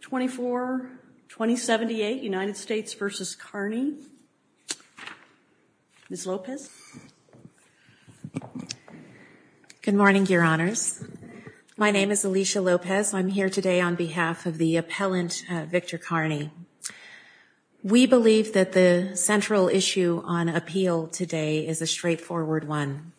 24, 2078, United States v. Kearney. Ms. Lopez. Good morning, Your Honors. My name is Alicia Lopez. I'm here today on behalf of the appellant Victor Kearney. We believe that the central issue on appeal today is a straightforward one.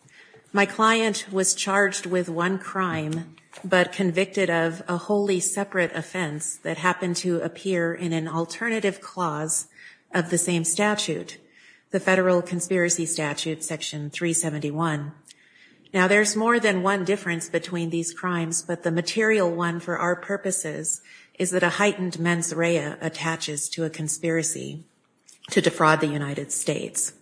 My client was charged with one crime, but convicted of a wholly separate offense that happened to appear in an alternative clause of the same statute, the Federal Conspiracy Statute, Section 371. Now, there's more than one difference between these crimes, but the material one for our purposes is that a heightened mens rea attaches to a conspiracy to defraud the United States.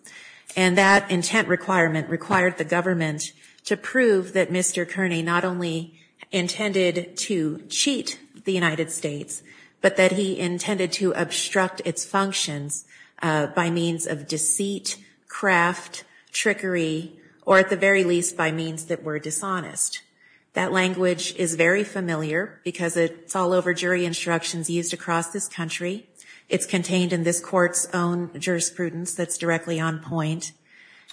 And that intent requirement required the government to prove that Mr. Kearney not only intended to cheat the United States, but that he intended to obstruct its functions by means of deceit, craft, trickery, or at the very least by means that were dishonest. That language is very familiar because it's all over jury instructions used across this country. It's contained in this court's own jurisprudence that's directly on point.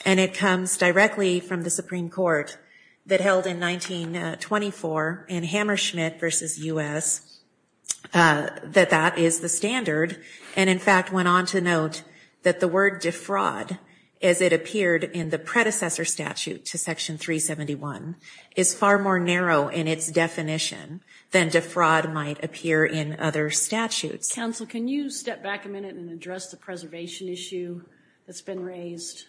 And it comes directly from the Supreme Court that held in 1924 in Hammersmith v. U.S. that that is the standard, and in fact went on to note that the word defraud, as it appeared in the predecessor statute to Section 371, is far more narrow in its definition than defraud might appear in other statutes. Counsel, can you step back a minute and address the preservation issue that's been raised?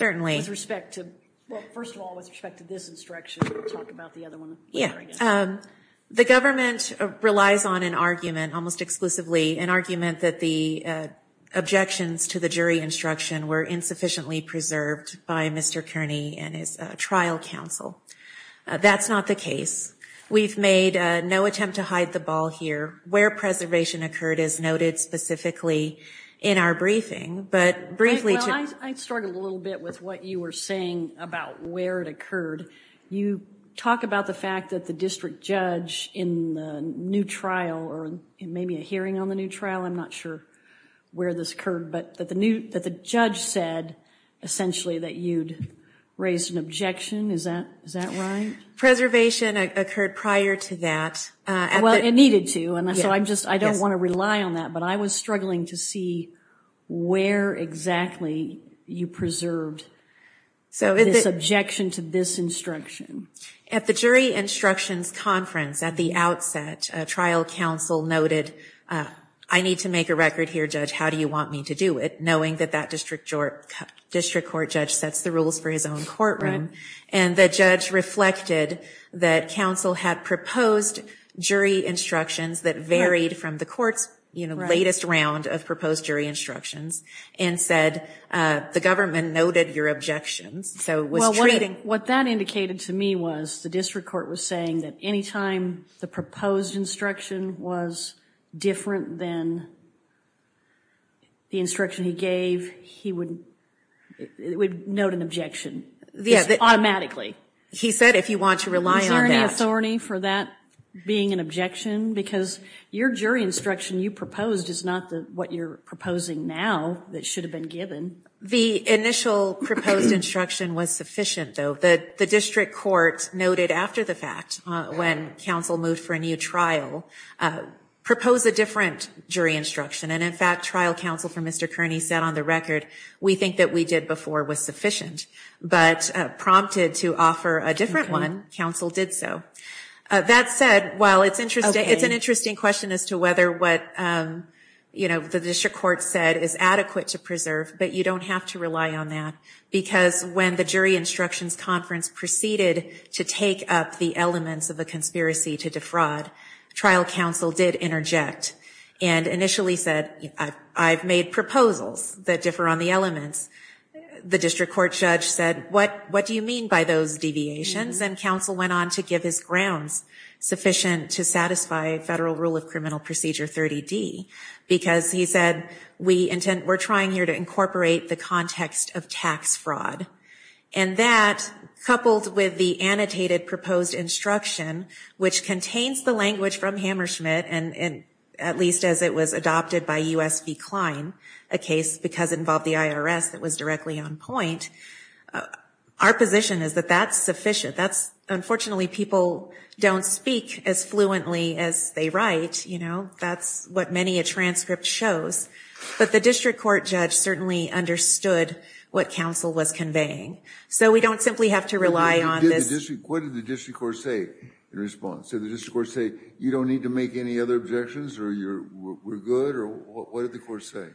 With respect to, well, first of all, with respect to this instruction, and we'll talk about the other one later, I guess. Yeah. The government relies on an argument, almost exclusively an argument, that the objections to the jury instruction were insufficiently preserved by Mr. Kearney and his trial counsel. That's not the case. We've made no attempt to hide the ball here. Where preservation occurred is noted specifically in our briefing, but briefly... Well, I struggled a little bit with what you were saying about where it occurred. You talk about the fact that the district judge in the new trial, or maybe a hearing on the new trial, I'm not sure where this occurred, but that the judge said essentially that you'd raised an objection. Is that right? Preservation occurred prior to that. Well, it needed to, and so I'm just, I don't want to rely on that, but I was struggling to see where exactly you preserved this objection to this instruction. At the jury instructions conference at the outset, trial counsel noted, I need to make a record here, judge, how do you want me to do it, knowing that that district court judge sets the rules for his own courtroom. And the judge reflected that counsel had proposed jury instructions that varied from the court's latest round of proposed jury instructions and said, the government noted your objections. Well, what that indicated to me was the district court was saying that any time the proposed instruction was different than the instruction he gave, he would note an objection automatically. He said if you want to rely on that. Is there any authority for that being an objection? Because your jury instruction you proposed is not what you're proposing now that should have been given. The initial proposed instruction was sufficient, though. The district court noted after the fact, when counsel moved for a new trial, proposed a different jury instruction. And in fact, trial counsel for Mr. Kearney said on the record, we think that we did before was sufficient. But prompted to offer a different one, counsel did so. That said, while it's interesting, it's an interesting question as to whether what, you know, the district court said is adequate to preserve, but you don't have to rely on that. Because when the jury instructions conference proceeded to take up the elements of a conspiracy to defraud, trial counsel did interject and initially said, I've made proposals that differ on the elements. The district court judge said, what do you mean by those deviations? And counsel went on to give his grounds sufficient to satisfy Federal Rule of Criminal Procedure 30D. Because he said, we're trying here to incorporate the context of tax fraud. And that, coupled with the annotated proposed instruction, which contains the language from Hammerschmidt, and at least as it was adopted by U.S. v. Klein, a case because it involved the IRS that was directly on point. Our position is that that's sufficient. That's, unfortunately, people don't speak as fluently as they write, you know. That's what many a transcript shows. But the district court judge certainly understood what counsel was conveying. So we don't simply have to rely on this. What did the district court say in response? Did the district court say, you don't need to make any other objections, or we're good? Or what did the court say?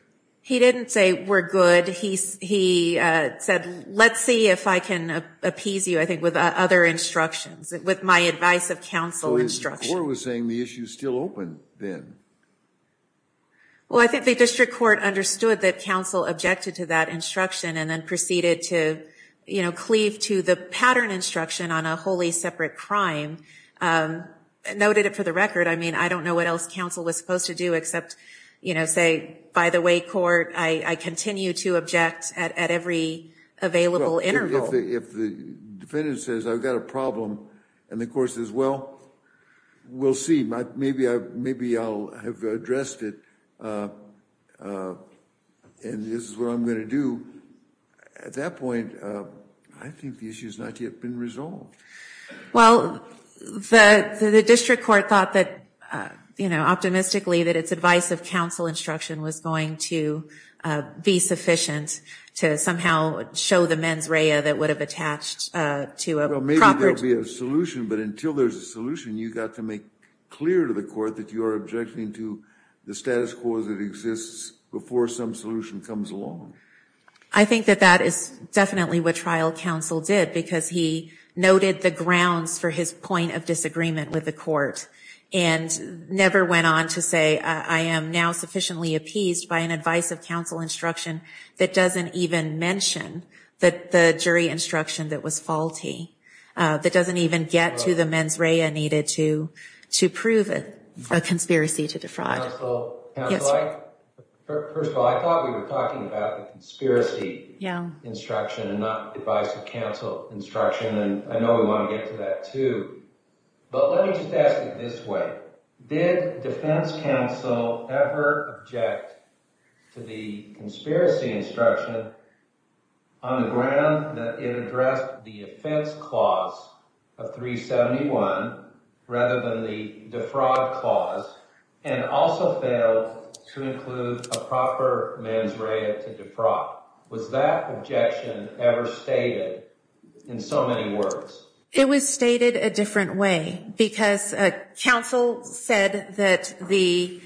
He didn't say we're good. He said, let's see if I can appease you, I think, with other instructions, with my advice of counsel instruction. So his court was saying the issue is still open then. Well, I think the district court understood that counsel objected to that instruction and then proceeded to, you know, cleave to the pattern instruction on a wholly separate crime. Noted it for the record. I mean, I don't know what else counsel was supposed to do except, you know, say, by the way, court, I continue to object at every available interval. If the defendant says, I've got a problem, and the court says, well, we'll see. Maybe I'll have addressed it, and this is what I'm going to do. At that point, I think the issue has not yet been resolved. Well, the district court thought that, you know, optimistically that its advice of counsel instruction was going to be sufficient to somehow show the mens rea that would have attached to a proper. Well, maybe there'll be a solution, but until there's a solution, you've got to make clear to the court that you are objecting to the status quo that exists before some solution comes along. I think that that is definitely what trial counsel did, because he noted the grounds for his point of disagreement with the court, and never went on to say, I am now sufficiently appeased by an advice of counsel instruction that doesn't even mention the jury instruction that was faulty. That doesn't even get to the mens rea needed to prove a conspiracy to defraud. Yes. Counsel failed to include a proper mens rea to defraud. Was that objection ever stated in so many words? It was stated a different way, because counsel said that the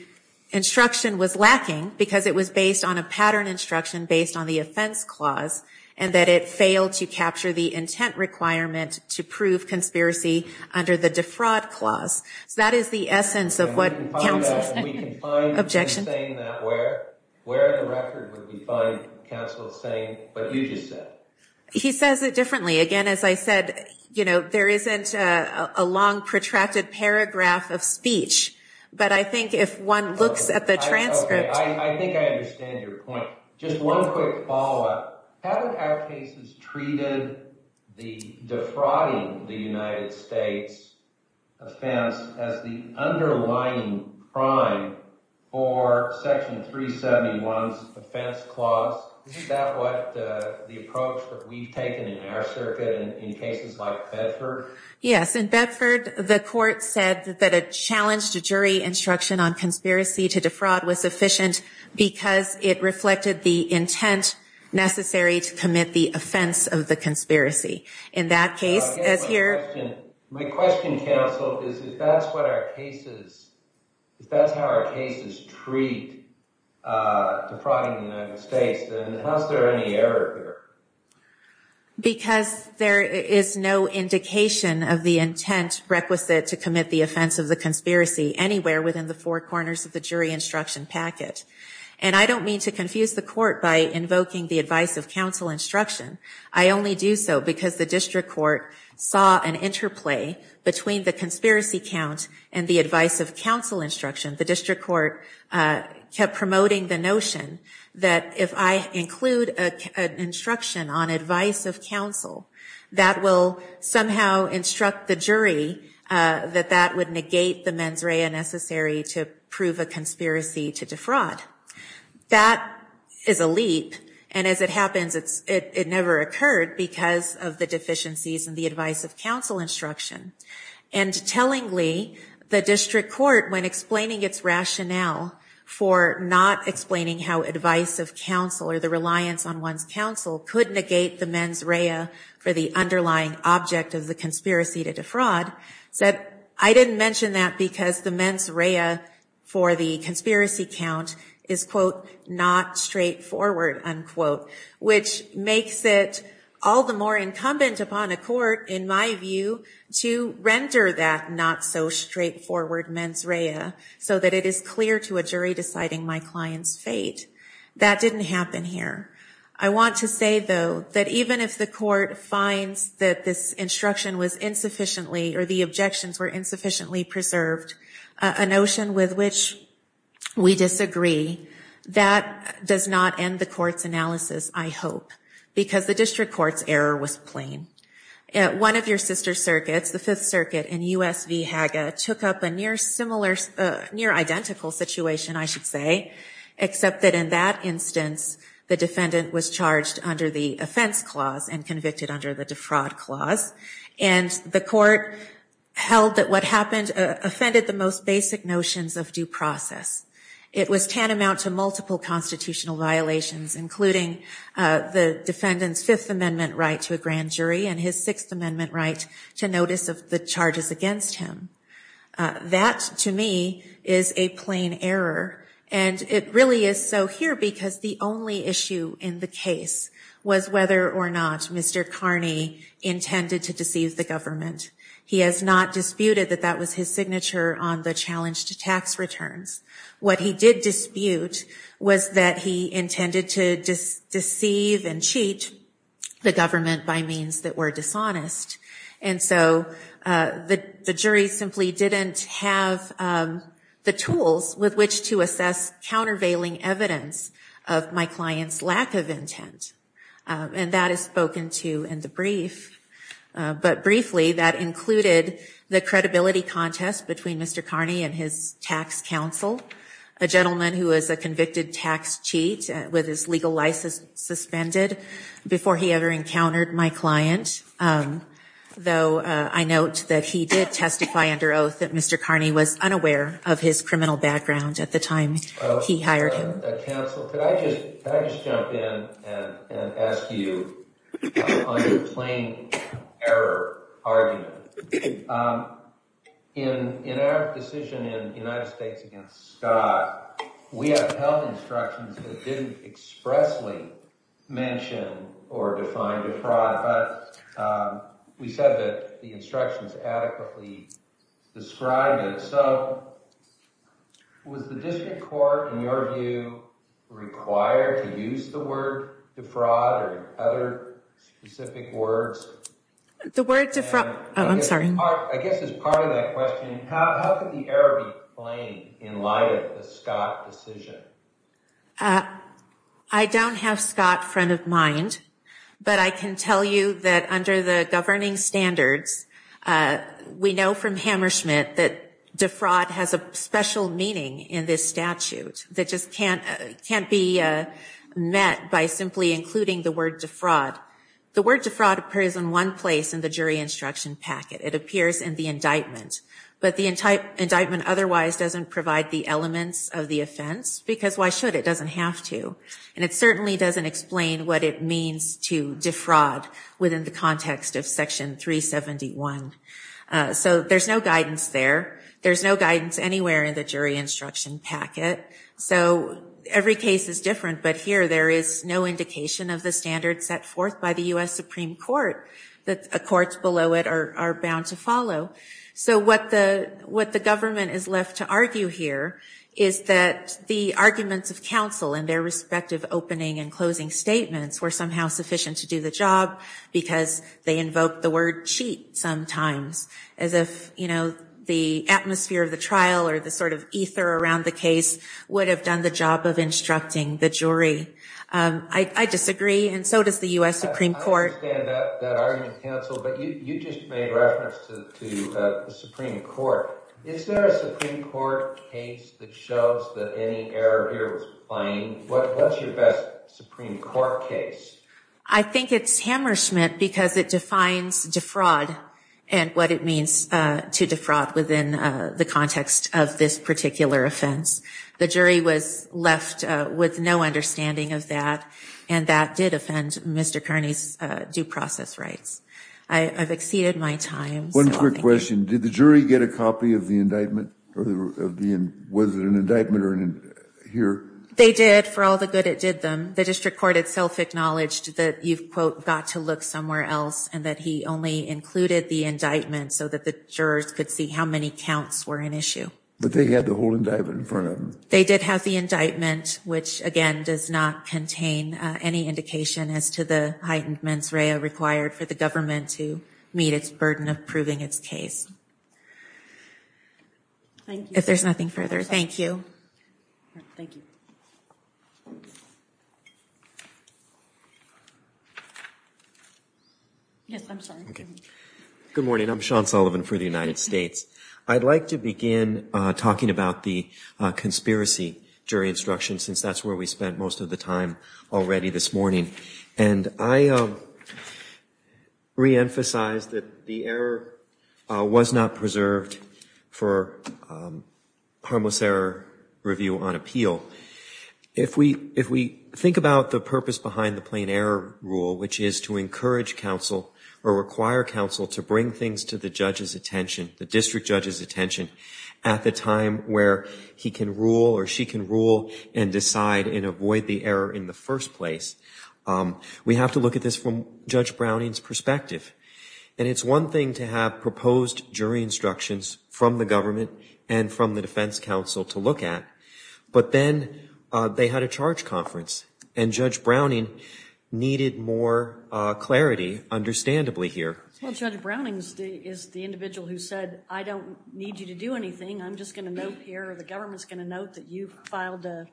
instruction was lacking, because it was based on a pattern instruction based on the offense clause, and that it failed to capture the intent requirement to prove conspiracy under the defraud clause. So that is the essence of what counsel said. Objection. Where in the record would we find counsel saying what you just said? He says it differently. Again, as I said, there isn't a long protracted paragraph of speech, but I think if one looks at the transcript. I think I understand your point. Just one quick follow-up. Haven't our cases treated the defrauding the United States offense as the underlying crime for Section 371's offense clause? Isn't that what the approach that we've taken in our circuit in cases like Bedford? Yes, in Bedford, the court said that a challenge to jury instruction on conspiracy to defraud was sufficient because it reflected the intent necessary to commit the offense of the conspiracy. In that case, as here. My question, counsel, is if that's how our cases treat defrauding the United States, then how is there any error here? Because there is no indication of the intent requisite to commit the offense of the conspiracy anywhere within the four corners of the jury instruction packet. And I don't mean to confuse the court by invoking the advice of counsel instruction. I only do so because the district court saw an interplay between the conspiracy count and the advice of counsel instruction. The district court kept promoting the notion that if I include an instruction on advice of counsel, that will somehow instruct the jury that that would negate the mens rea necessary to prove a conspiracy to defraud. That is a leap. And as it happens, it never occurred because of the deficiencies in the advice of counsel instruction. And tellingly, the district court, when explaining its rationale for not explaining how advice of counsel or the reliance on one's counsel could negate the mens rea for the underlying object of the conspiracy to defraud, said, I didn't mention that because the mens rea for the conspiracy count is, quote, not straightforward, unquote. Which makes it all the more incumbent upon a court, in my view, to render that not-so-straightforward mens rea so that it is clear to a jury deciding my client's fate. That didn't happen here. I want to say, though, that even if the court finds that this instruction was insufficiently or the objections were insufficiently preserved, a notion with which we disagree, that does not end the court's analysis, I hope, because the district court's error was plain. One of your sister circuits, the Fifth Circuit in U.S. v. Haga, took up a near identical situation, I should say, except that in that instance, the defendant was charged under the offense clause and convicted under the defraud clause. And the court held that what happened offended the most basic notions of due process. It was tantamount to multiple constitutional violations, including the defendant's Fifth Amendment right to a grand jury and his Sixth Amendment right to notice of the charges against him. That, to me, is a plain error. And it really is so here because the only issue in the case was whether or not Mr. Carney intended to deceive the government. He has not disputed that that was his signature on the challenge to tax returns. What he did dispute was that he intended to deceive and cheat the government by means that were dishonest. And so the jury simply didn't have the tools with which to assess countervailing evidence of my client's lack of intent. And that is spoken to in the brief. But briefly, that included the credibility contest between Mr. Carney and his tax counsel, a gentleman who was a convicted tax cheat with his legal license suspended before he ever encountered my client. Though I note that he did testify under oath that Mr. Carney was unaware of his criminal background at the time he hired him. Counsel, could I just jump in and ask you on your plain error argument? In our decision in the United States against Scott, we have held instructions that didn't expressly mention or define defraud. But we said that the instructions adequately described it. So was the district court, in your view, required to use the word defraud or other specific words? The word defraud, I'm sorry. I guess as part of that question, how could the error be explained in light of the Scott decision? I don't have Scott front of mind. But I can tell you that under the governing standards, we know from Hammersmith that defraud has a special meaning in this statute that just can't be met by simply including the word defraud. The word defraud appears in one place in the jury instruction packet. It appears in the indictment. But the indictment otherwise doesn't provide the elements of the offense. Because why should? It doesn't have to. And it certainly doesn't explain what it means to defraud within the context of Section 371. So there's no guidance there. There's no guidance anywhere in the jury instruction packet. So every case is different. But here there is no indication of the standards set forth by the U.S. Supreme Court. The courts below it are bound to follow. So what the government is left to argue here is that the arguments of counsel in their respective opening and closing statements were somehow sufficient to do the job because they invoked the word cheat sometimes. As if, you know, the atmosphere of the trial or the sort of ether around the case would have done the job of instructing the jury. I disagree. And so does the U.S. Supreme Court. I understand that argument of counsel. But you just made reference to the Supreme Court. Is there a Supreme Court case that shows that any error here was plain? What's your best Supreme Court case? I think it's Hammerschmidt because it defines defraud and what it means to defraud within the context of this particular offense. The jury was left with no understanding of that. And that did offend Mr. Kearney's due process rights. I've exceeded my time. One quick question. Did the jury get a copy of the indictment? Was it an indictment here? They did for all the good it did them. The district court itself acknowledged that you've, quote, got to look somewhere else and that he only included the indictment so that the jurors could see how many counts were in issue. But they had the whole indictment in front of them. They did have the indictment, which, again, does not contain any indication as to the heightened mens rea required for the government to meet its burden of proving its case. If there's nothing further, thank you. Good morning. I'm Sean Sullivan for the United States. I'd like to begin talking about the conspiracy jury instruction since that's where we spent most of the time already this morning. And I reemphasize that the error was not preserved for harmless error review on appeal. If we think about the purpose behind the plain error rule, which is to encourage counsel or require counsel to bring things to the judge's attention, the district judge's attention at the time where he can rule or she can rule and decide and avoid the error in the first place, we have to look at this from Judge Browning's perspective. And it's one thing to have proposed jury instructions from the government and from the defense counsel to look at. But then they had a charge conference. And Judge Browning needed more clarity, understandably, here. Well, Judge Browning is the individual who said, I don't need you to do anything. I'm just going to note here, or the government's going to note, that you filed, that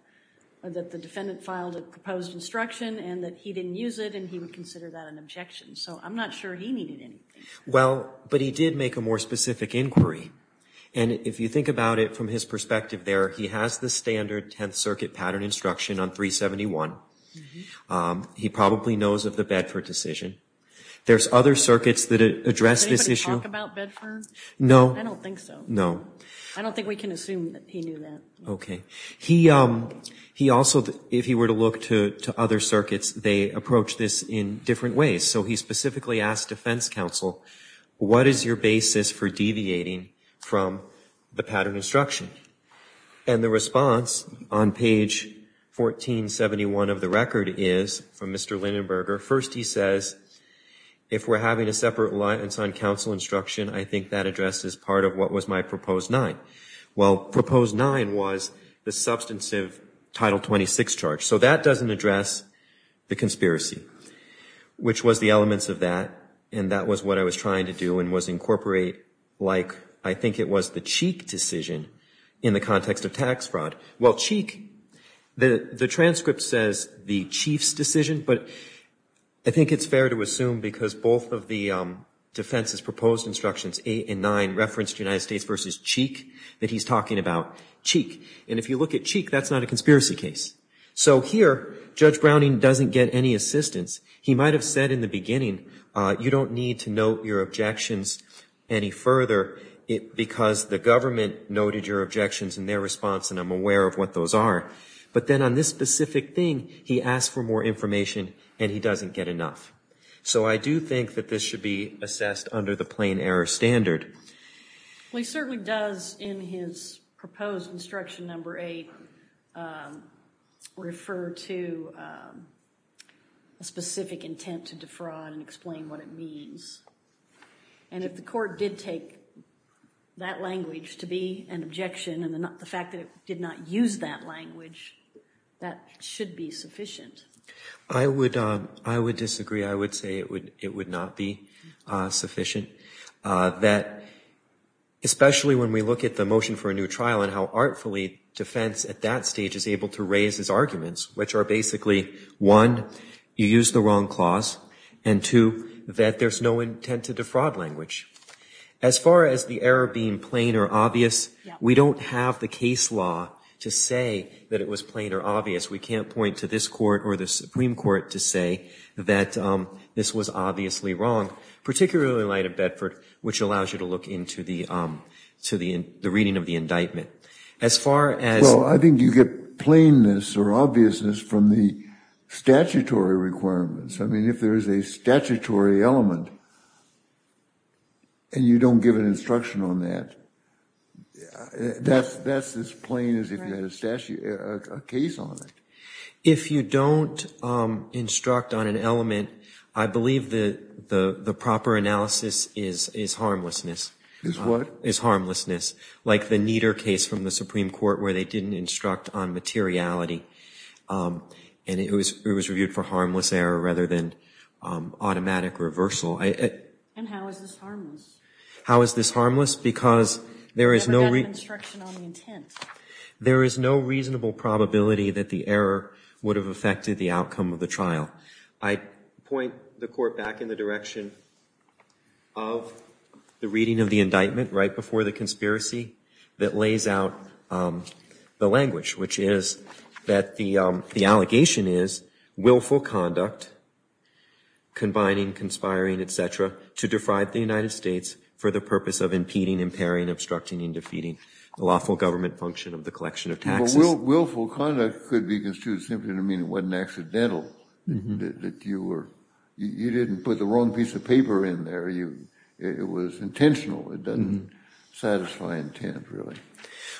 the defendant filed a proposed instruction and that he didn't use it and he would consider that an objection. So I'm not sure he needed anything. Well, but he did make a more specific inquiry. And if you think about it from his perspective there, he has the standard Tenth Circuit pattern instruction on 371. He probably knows of the Bedford decision. There's other circuits that address this issue. Does anybody talk about Bedford? No. I don't think so. No. I don't think we can assume that he knew that. Okay. He also, if he were to look to other circuits, they approach this in different ways. So he specifically asked defense counsel, what is your basis for deviating from the pattern instruction? And the response on page 1471 of the record is, from Mr. Lindenberger, first he says, if we're having a separate alliance on counsel instruction, I think that addresses part of what was my proposed nine. Well, proposed nine was the substantive Title 26 charge. So that doesn't address the conspiracy, which was the elements of that, and that was what I was trying to do and was incorporate like I think it was the Cheek decision in the context of tax fraud. Well, Cheek, the transcript says the Chief's decision, but I think it's fair to assume because both of the defense's proposed instructions, eight and nine, referenced United States versus Cheek, that he's talking about Cheek. And if you look at Cheek, that's not a conspiracy case. So here, Judge Browning doesn't get any assistance. He might have said in the beginning, you don't need to note your objections any further because the government noted your objections in their response and I'm aware of what those are. But then on this specific thing, he asked for more information and he doesn't get enough. So I do think that this should be assessed under the plain error standard. Well, he certainly does in his proposed instruction number eight refer to a specific intent to defraud and explain what it means. And if the court did take that language to be an objection and the fact that it did not use that language, that should be sufficient. I would disagree. I would say it would not be sufficient. Especially when we look at the motion for a new trial and how artfully defense at that stage is able to raise his arguments, which are basically, one, you used the wrong clause, and two, that there's no intent to defraud language. As far as the error being plain or obvious, we don't have the case law to say that it was plain or obvious. We can't point to this court or the Supreme Court to say that this was obviously wrong, particularly in light of Bedford, which allows you to look into the reading of the indictment. Well, I think you get plainness or obviousness from the statutory requirements. I mean, if there is a statutory element and you don't give an instruction on that, that's as plain as if you had a case on it. If you don't instruct on an element, I believe the proper analysis is harmlessness. Is what? Is harmlessness, like the Nieder case from the Supreme Court where they didn't instruct on materiality, and it was reviewed for harmless error rather than automatic reversal. And how is this harmless? How is this harmless? Because there is no... You never got an instruction on the intent. There is no reasonable probability that the error would have affected the outcome of the trial. I point the court back in the direction of the reading of the indictment right before the conspiracy that lays out the language, which is that the allegation is willful conduct, combining, conspiring, et cetera, to defraud the United States for the purpose of impeding, impairing, obstructing, and defeating the lawful government function of the collection of taxes. Willful conduct could be construed simply to mean it wasn't accidental, that you were... You didn't put the wrong piece of paper in there. It was intentional. It doesn't satisfy intent, really.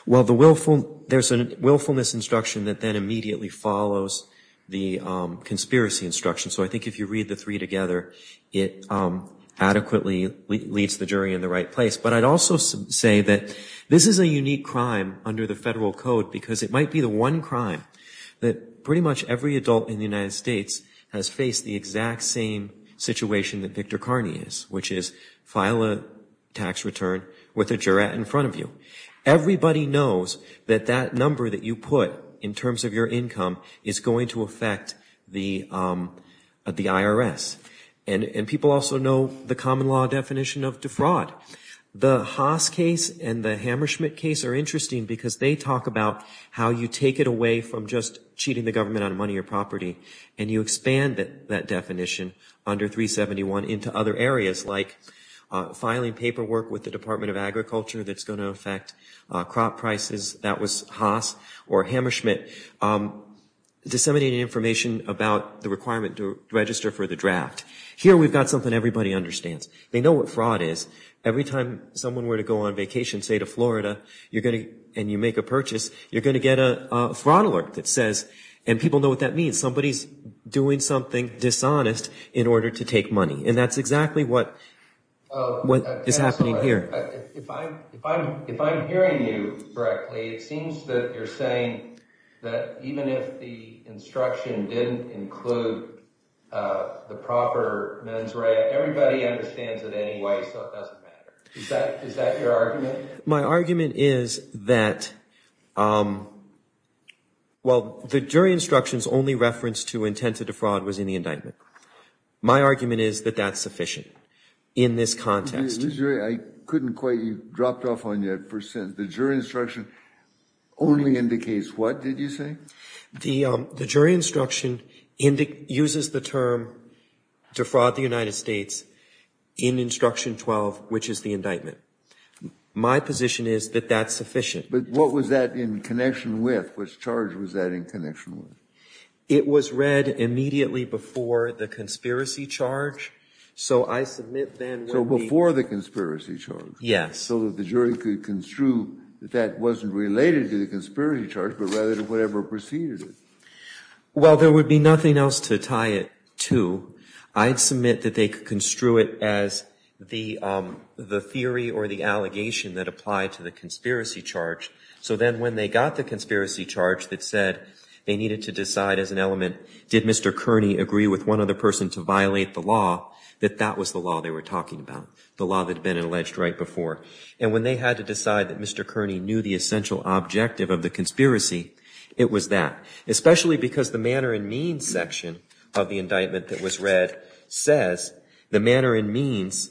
Well, the willful... There's a willfulness instruction that then immediately follows the conspiracy instruction. So I think if you read the three together, it adequately leads the jury in the right place. But I'd also say that this is a unique crime under the federal code, because it might be the one crime that pretty much every adult in the United States has faced the exact same situation that Victor Carney is, which is file a tax return with a juror in front of you. Everybody knows that that number that you put in terms of your income is going to affect the IRS. And people also know the common law definition of defraud. The Haas case and the Hammerschmidt case are interesting because they talk about how you take it away from just cheating the government on money or property, and you expand that definition under 371 into other areas, like filing paperwork with the Department of Agriculture that's going to affect crop prices. That was Haas or Hammerschmidt disseminating information about the requirement to register for the draft. Here we've got something everybody understands. They know what fraud is. Every time someone were to go on vacation, say, to Florida, and you make a purchase, you're going to get a fraud alert that says, and people know what that means, somebody's doing something dishonest in order to take money. And that's exactly what is happening here. If I'm hearing you correctly, it seems that you're saying that even if the instruction didn't include the proper mens rea, everybody understands it anyway, so it doesn't matter. Is that your argument? My argument is that, well, the jury instructions only reference to intent to defraud was in the indictment. My argument is that that's sufficient in this context. I couldn't quite. You dropped off on your first sentence. The jury instruction only indicates what, did you say? The jury instruction uses the term defraud the United States in instruction 12, which is the indictment. My position is that that's sufficient. But what was that in connection with? Which charge was that in connection with? It was read immediately before the conspiracy charge. So before the conspiracy charge? So that the jury could construe that that wasn't related to the conspiracy charge, but rather to whatever preceded it. Well, there would be nothing else to tie it to. I'd submit that they could construe it as the theory or the allegation that applied to the conspiracy charge. So then when they got the conspiracy charge that said they needed to decide as an element, did Mr. Kearney agree with one other person to violate the law, that that was the law they were talking about. The law that had been alleged right before. And when they had to decide that Mr. Kearney knew the essential objective of the conspiracy, it was that. Especially because the manner and means section of the indictment that was read says, the manner and means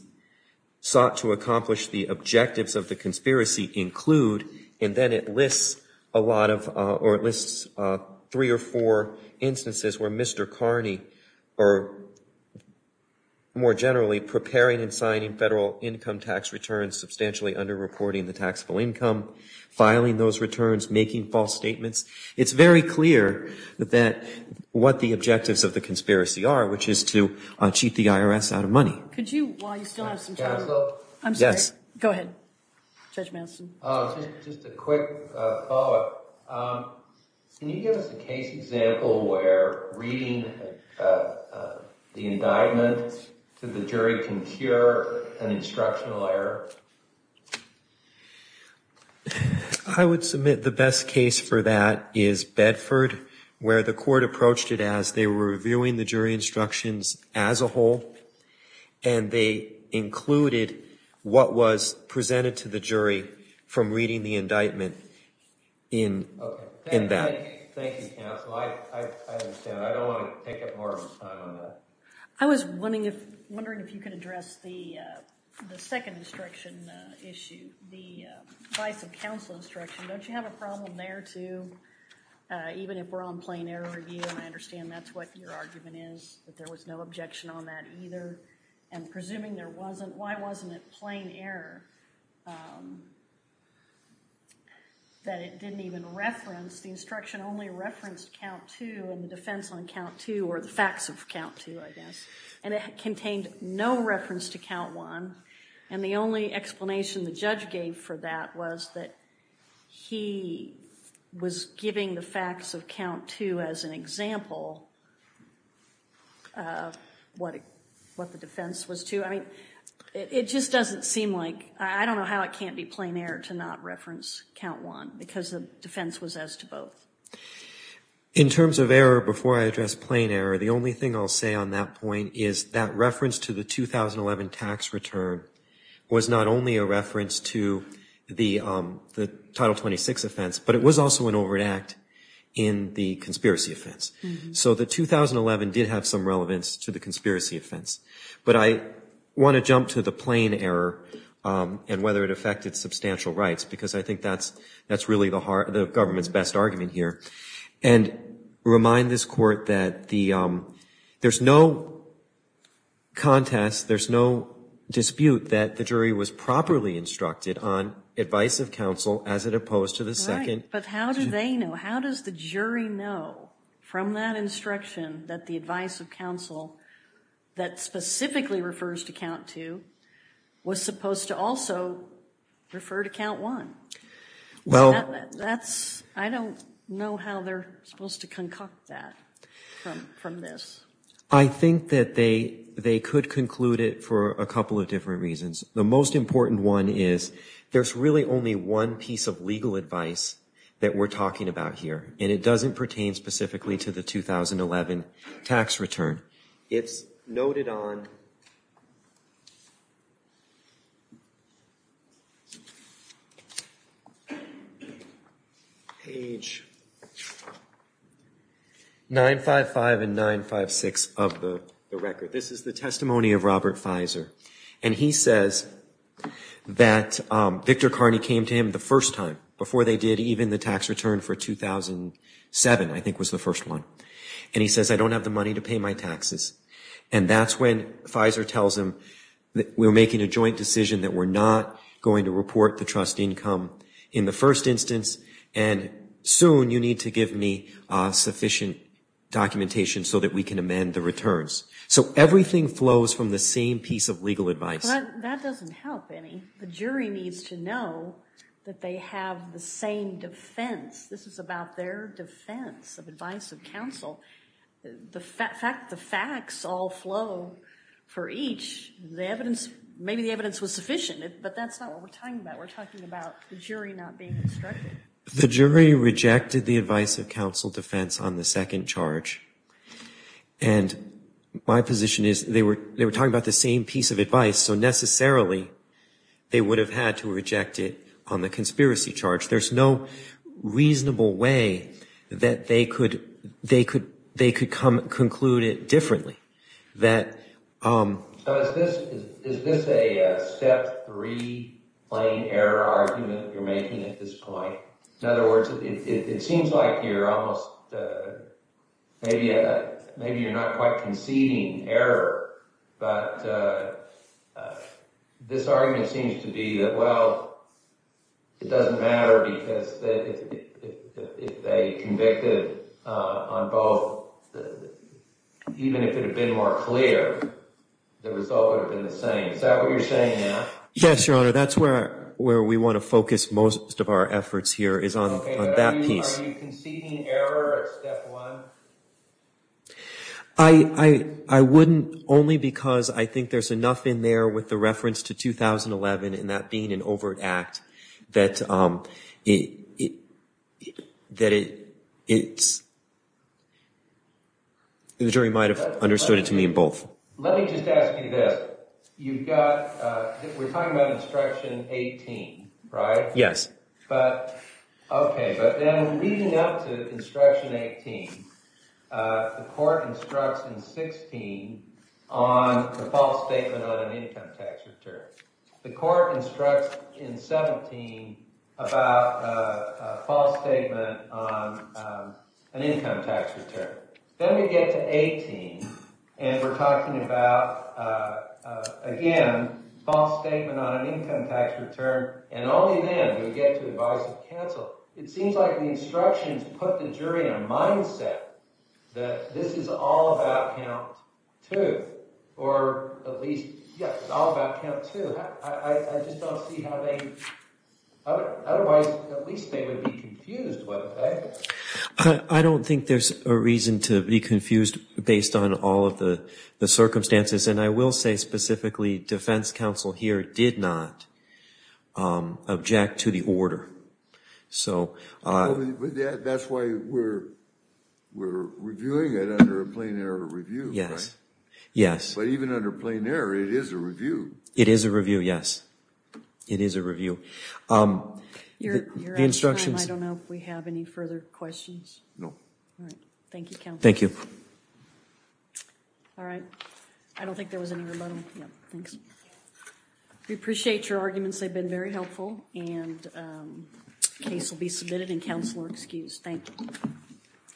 sought to accomplish the objectives of the conspiracy include, and then it lists a lot of, or it lists three or four instances where Mr. Kearney, or more generally, preparing and signing federal income tax returns, substantially under-reporting the taxable income, filing those returns, making false statements. It's very clear that what the objectives of the conspiracy are, which is to cheat the IRS out of money. Could you, while you still have some time. I'm sorry. Go ahead, Judge Manson. Just a quick follow-up. Can you give us a case example where reading the indictment to the jury can cure an instructional error? I would submit the best case for that is Bedford, where the court approached it as they were reviewing the jury instructions as a whole, and they included what was presented to the jury from reading the indictment in that. Thank you, counsel. I understand. I don't want to take up more of his time on that. I was wondering if you could address the second instruction issue, the vice of counsel instruction. Don't you have a problem there, too, even if we're on plain error review? I understand that's what your argument is, that there was no objection on that either. And presuming there wasn't, why wasn't it plain error that it didn't even reference, the instruction only referenced count two and the defense on count two or the facts of count two, I guess. And it contained no reference to count one. And the only explanation the judge gave for that was that he was giving the facts of count two as an example of what the defense was to. I mean, it just doesn't seem like, I don't know how it can't be plain error to not reference count one because the defense was as to both. In terms of error, before I address plain error, the only thing I'll say on that point is that reference to the 2011 tax return was not only a reference to the Title 26 offense, but it was also an overt act in the conspiracy offense. So the 2011 did have some relevance to the conspiracy offense. But I want to jump to the plain error and whether it affected substantial rights because I think that's really the government's best argument here. And remind this court that there's no contest, there's no dispute that the jury was properly instructed on advice of counsel as opposed to the second. But how do they know? How does the jury know from that instruction that the advice of counsel that specifically refers to count two was supposed to also refer to count one? I don't know how they're supposed to concoct that from this. I think that they could conclude it for a couple of different reasons. The most important one is there's really only one piece of legal advice that we're talking about here, and it doesn't pertain specifically to the 2011 tax return. It's noted on page 955 and 956 of the record. This is the testimony of Robert Fizer. And he says that Victor Carney came to him the first time before they did even the tax return for 2007, I think was the first one. And he says, I don't have the money to pay my taxes. And that's when Fizer tells him that we're making a joint decision that we're not going to report the trust income in the first instance, and soon you need to give me sufficient documentation so that we can amend the returns. So everything flows from the same piece of legal advice. That doesn't help any. The jury needs to know that they have the same defense. This is about their defense of advice of counsel. The fact that the facts all flow for each, the evidence, maybe the evidence was sufficient, but that's not what we're talking about. We're talking about the jury not being instructed. The jury rejected the advice of counsel defense on the second charge. And my position is they were talking about the same piece of advice, so necessarily they would have had to reject it on the conspiracy charge. There's no reasonable way that they could conclude it differently. Is this a step three plain error argument you're making at this point? In other words, it seems like you're almost, maybe you're not quite conceding error, but this argument seems to be that, well, it doesn't matter because if they convicted on both, even if it had been more clear, the result would have been the same. Is that what you're saying now? Yes, Your Honor. That's where we want to focus most of our efforts here is on that piece. Are you conceding error at step one? I wouldn't only because I think there's enough in there with the reference to 2011 and that being an overt act that it's, the jury might have understood it to mean both. Let me just ask you this. You've got, we're talking about Instruction 18, right? Yes. Okay, but then leading up to Instruction 18, the court instructs in 16 on the false statement on an income tax return. The court instructs in 17 about a false statement on an income tax return. Then we get to 18 and we're talking about, again, false statement on an income tax return and only then do we get to advice of counsel. It seems like the instructions put the jury in a mindset that this is all about count two or at least, yes, it's all about count two. I just don't see how they, otherwise, at least they would be confused, wouldn't they? I don't think there's a reason to be confused based on all of the circumstances and I will say specifically defense counsel here did not object to the order. That's why we're reviewing it under a plain error review, right? But even under plain error, it is a review. It is a review, yes. It is a review. You're out of time. I don't know if we have any further questions. No. Thank you, counsel. Thank you. All right. I don't think there was any rebuttal. Thanks. We appreciate your arguments. They've been very helpful and the case will be submitted and counsel are excused. Thank you.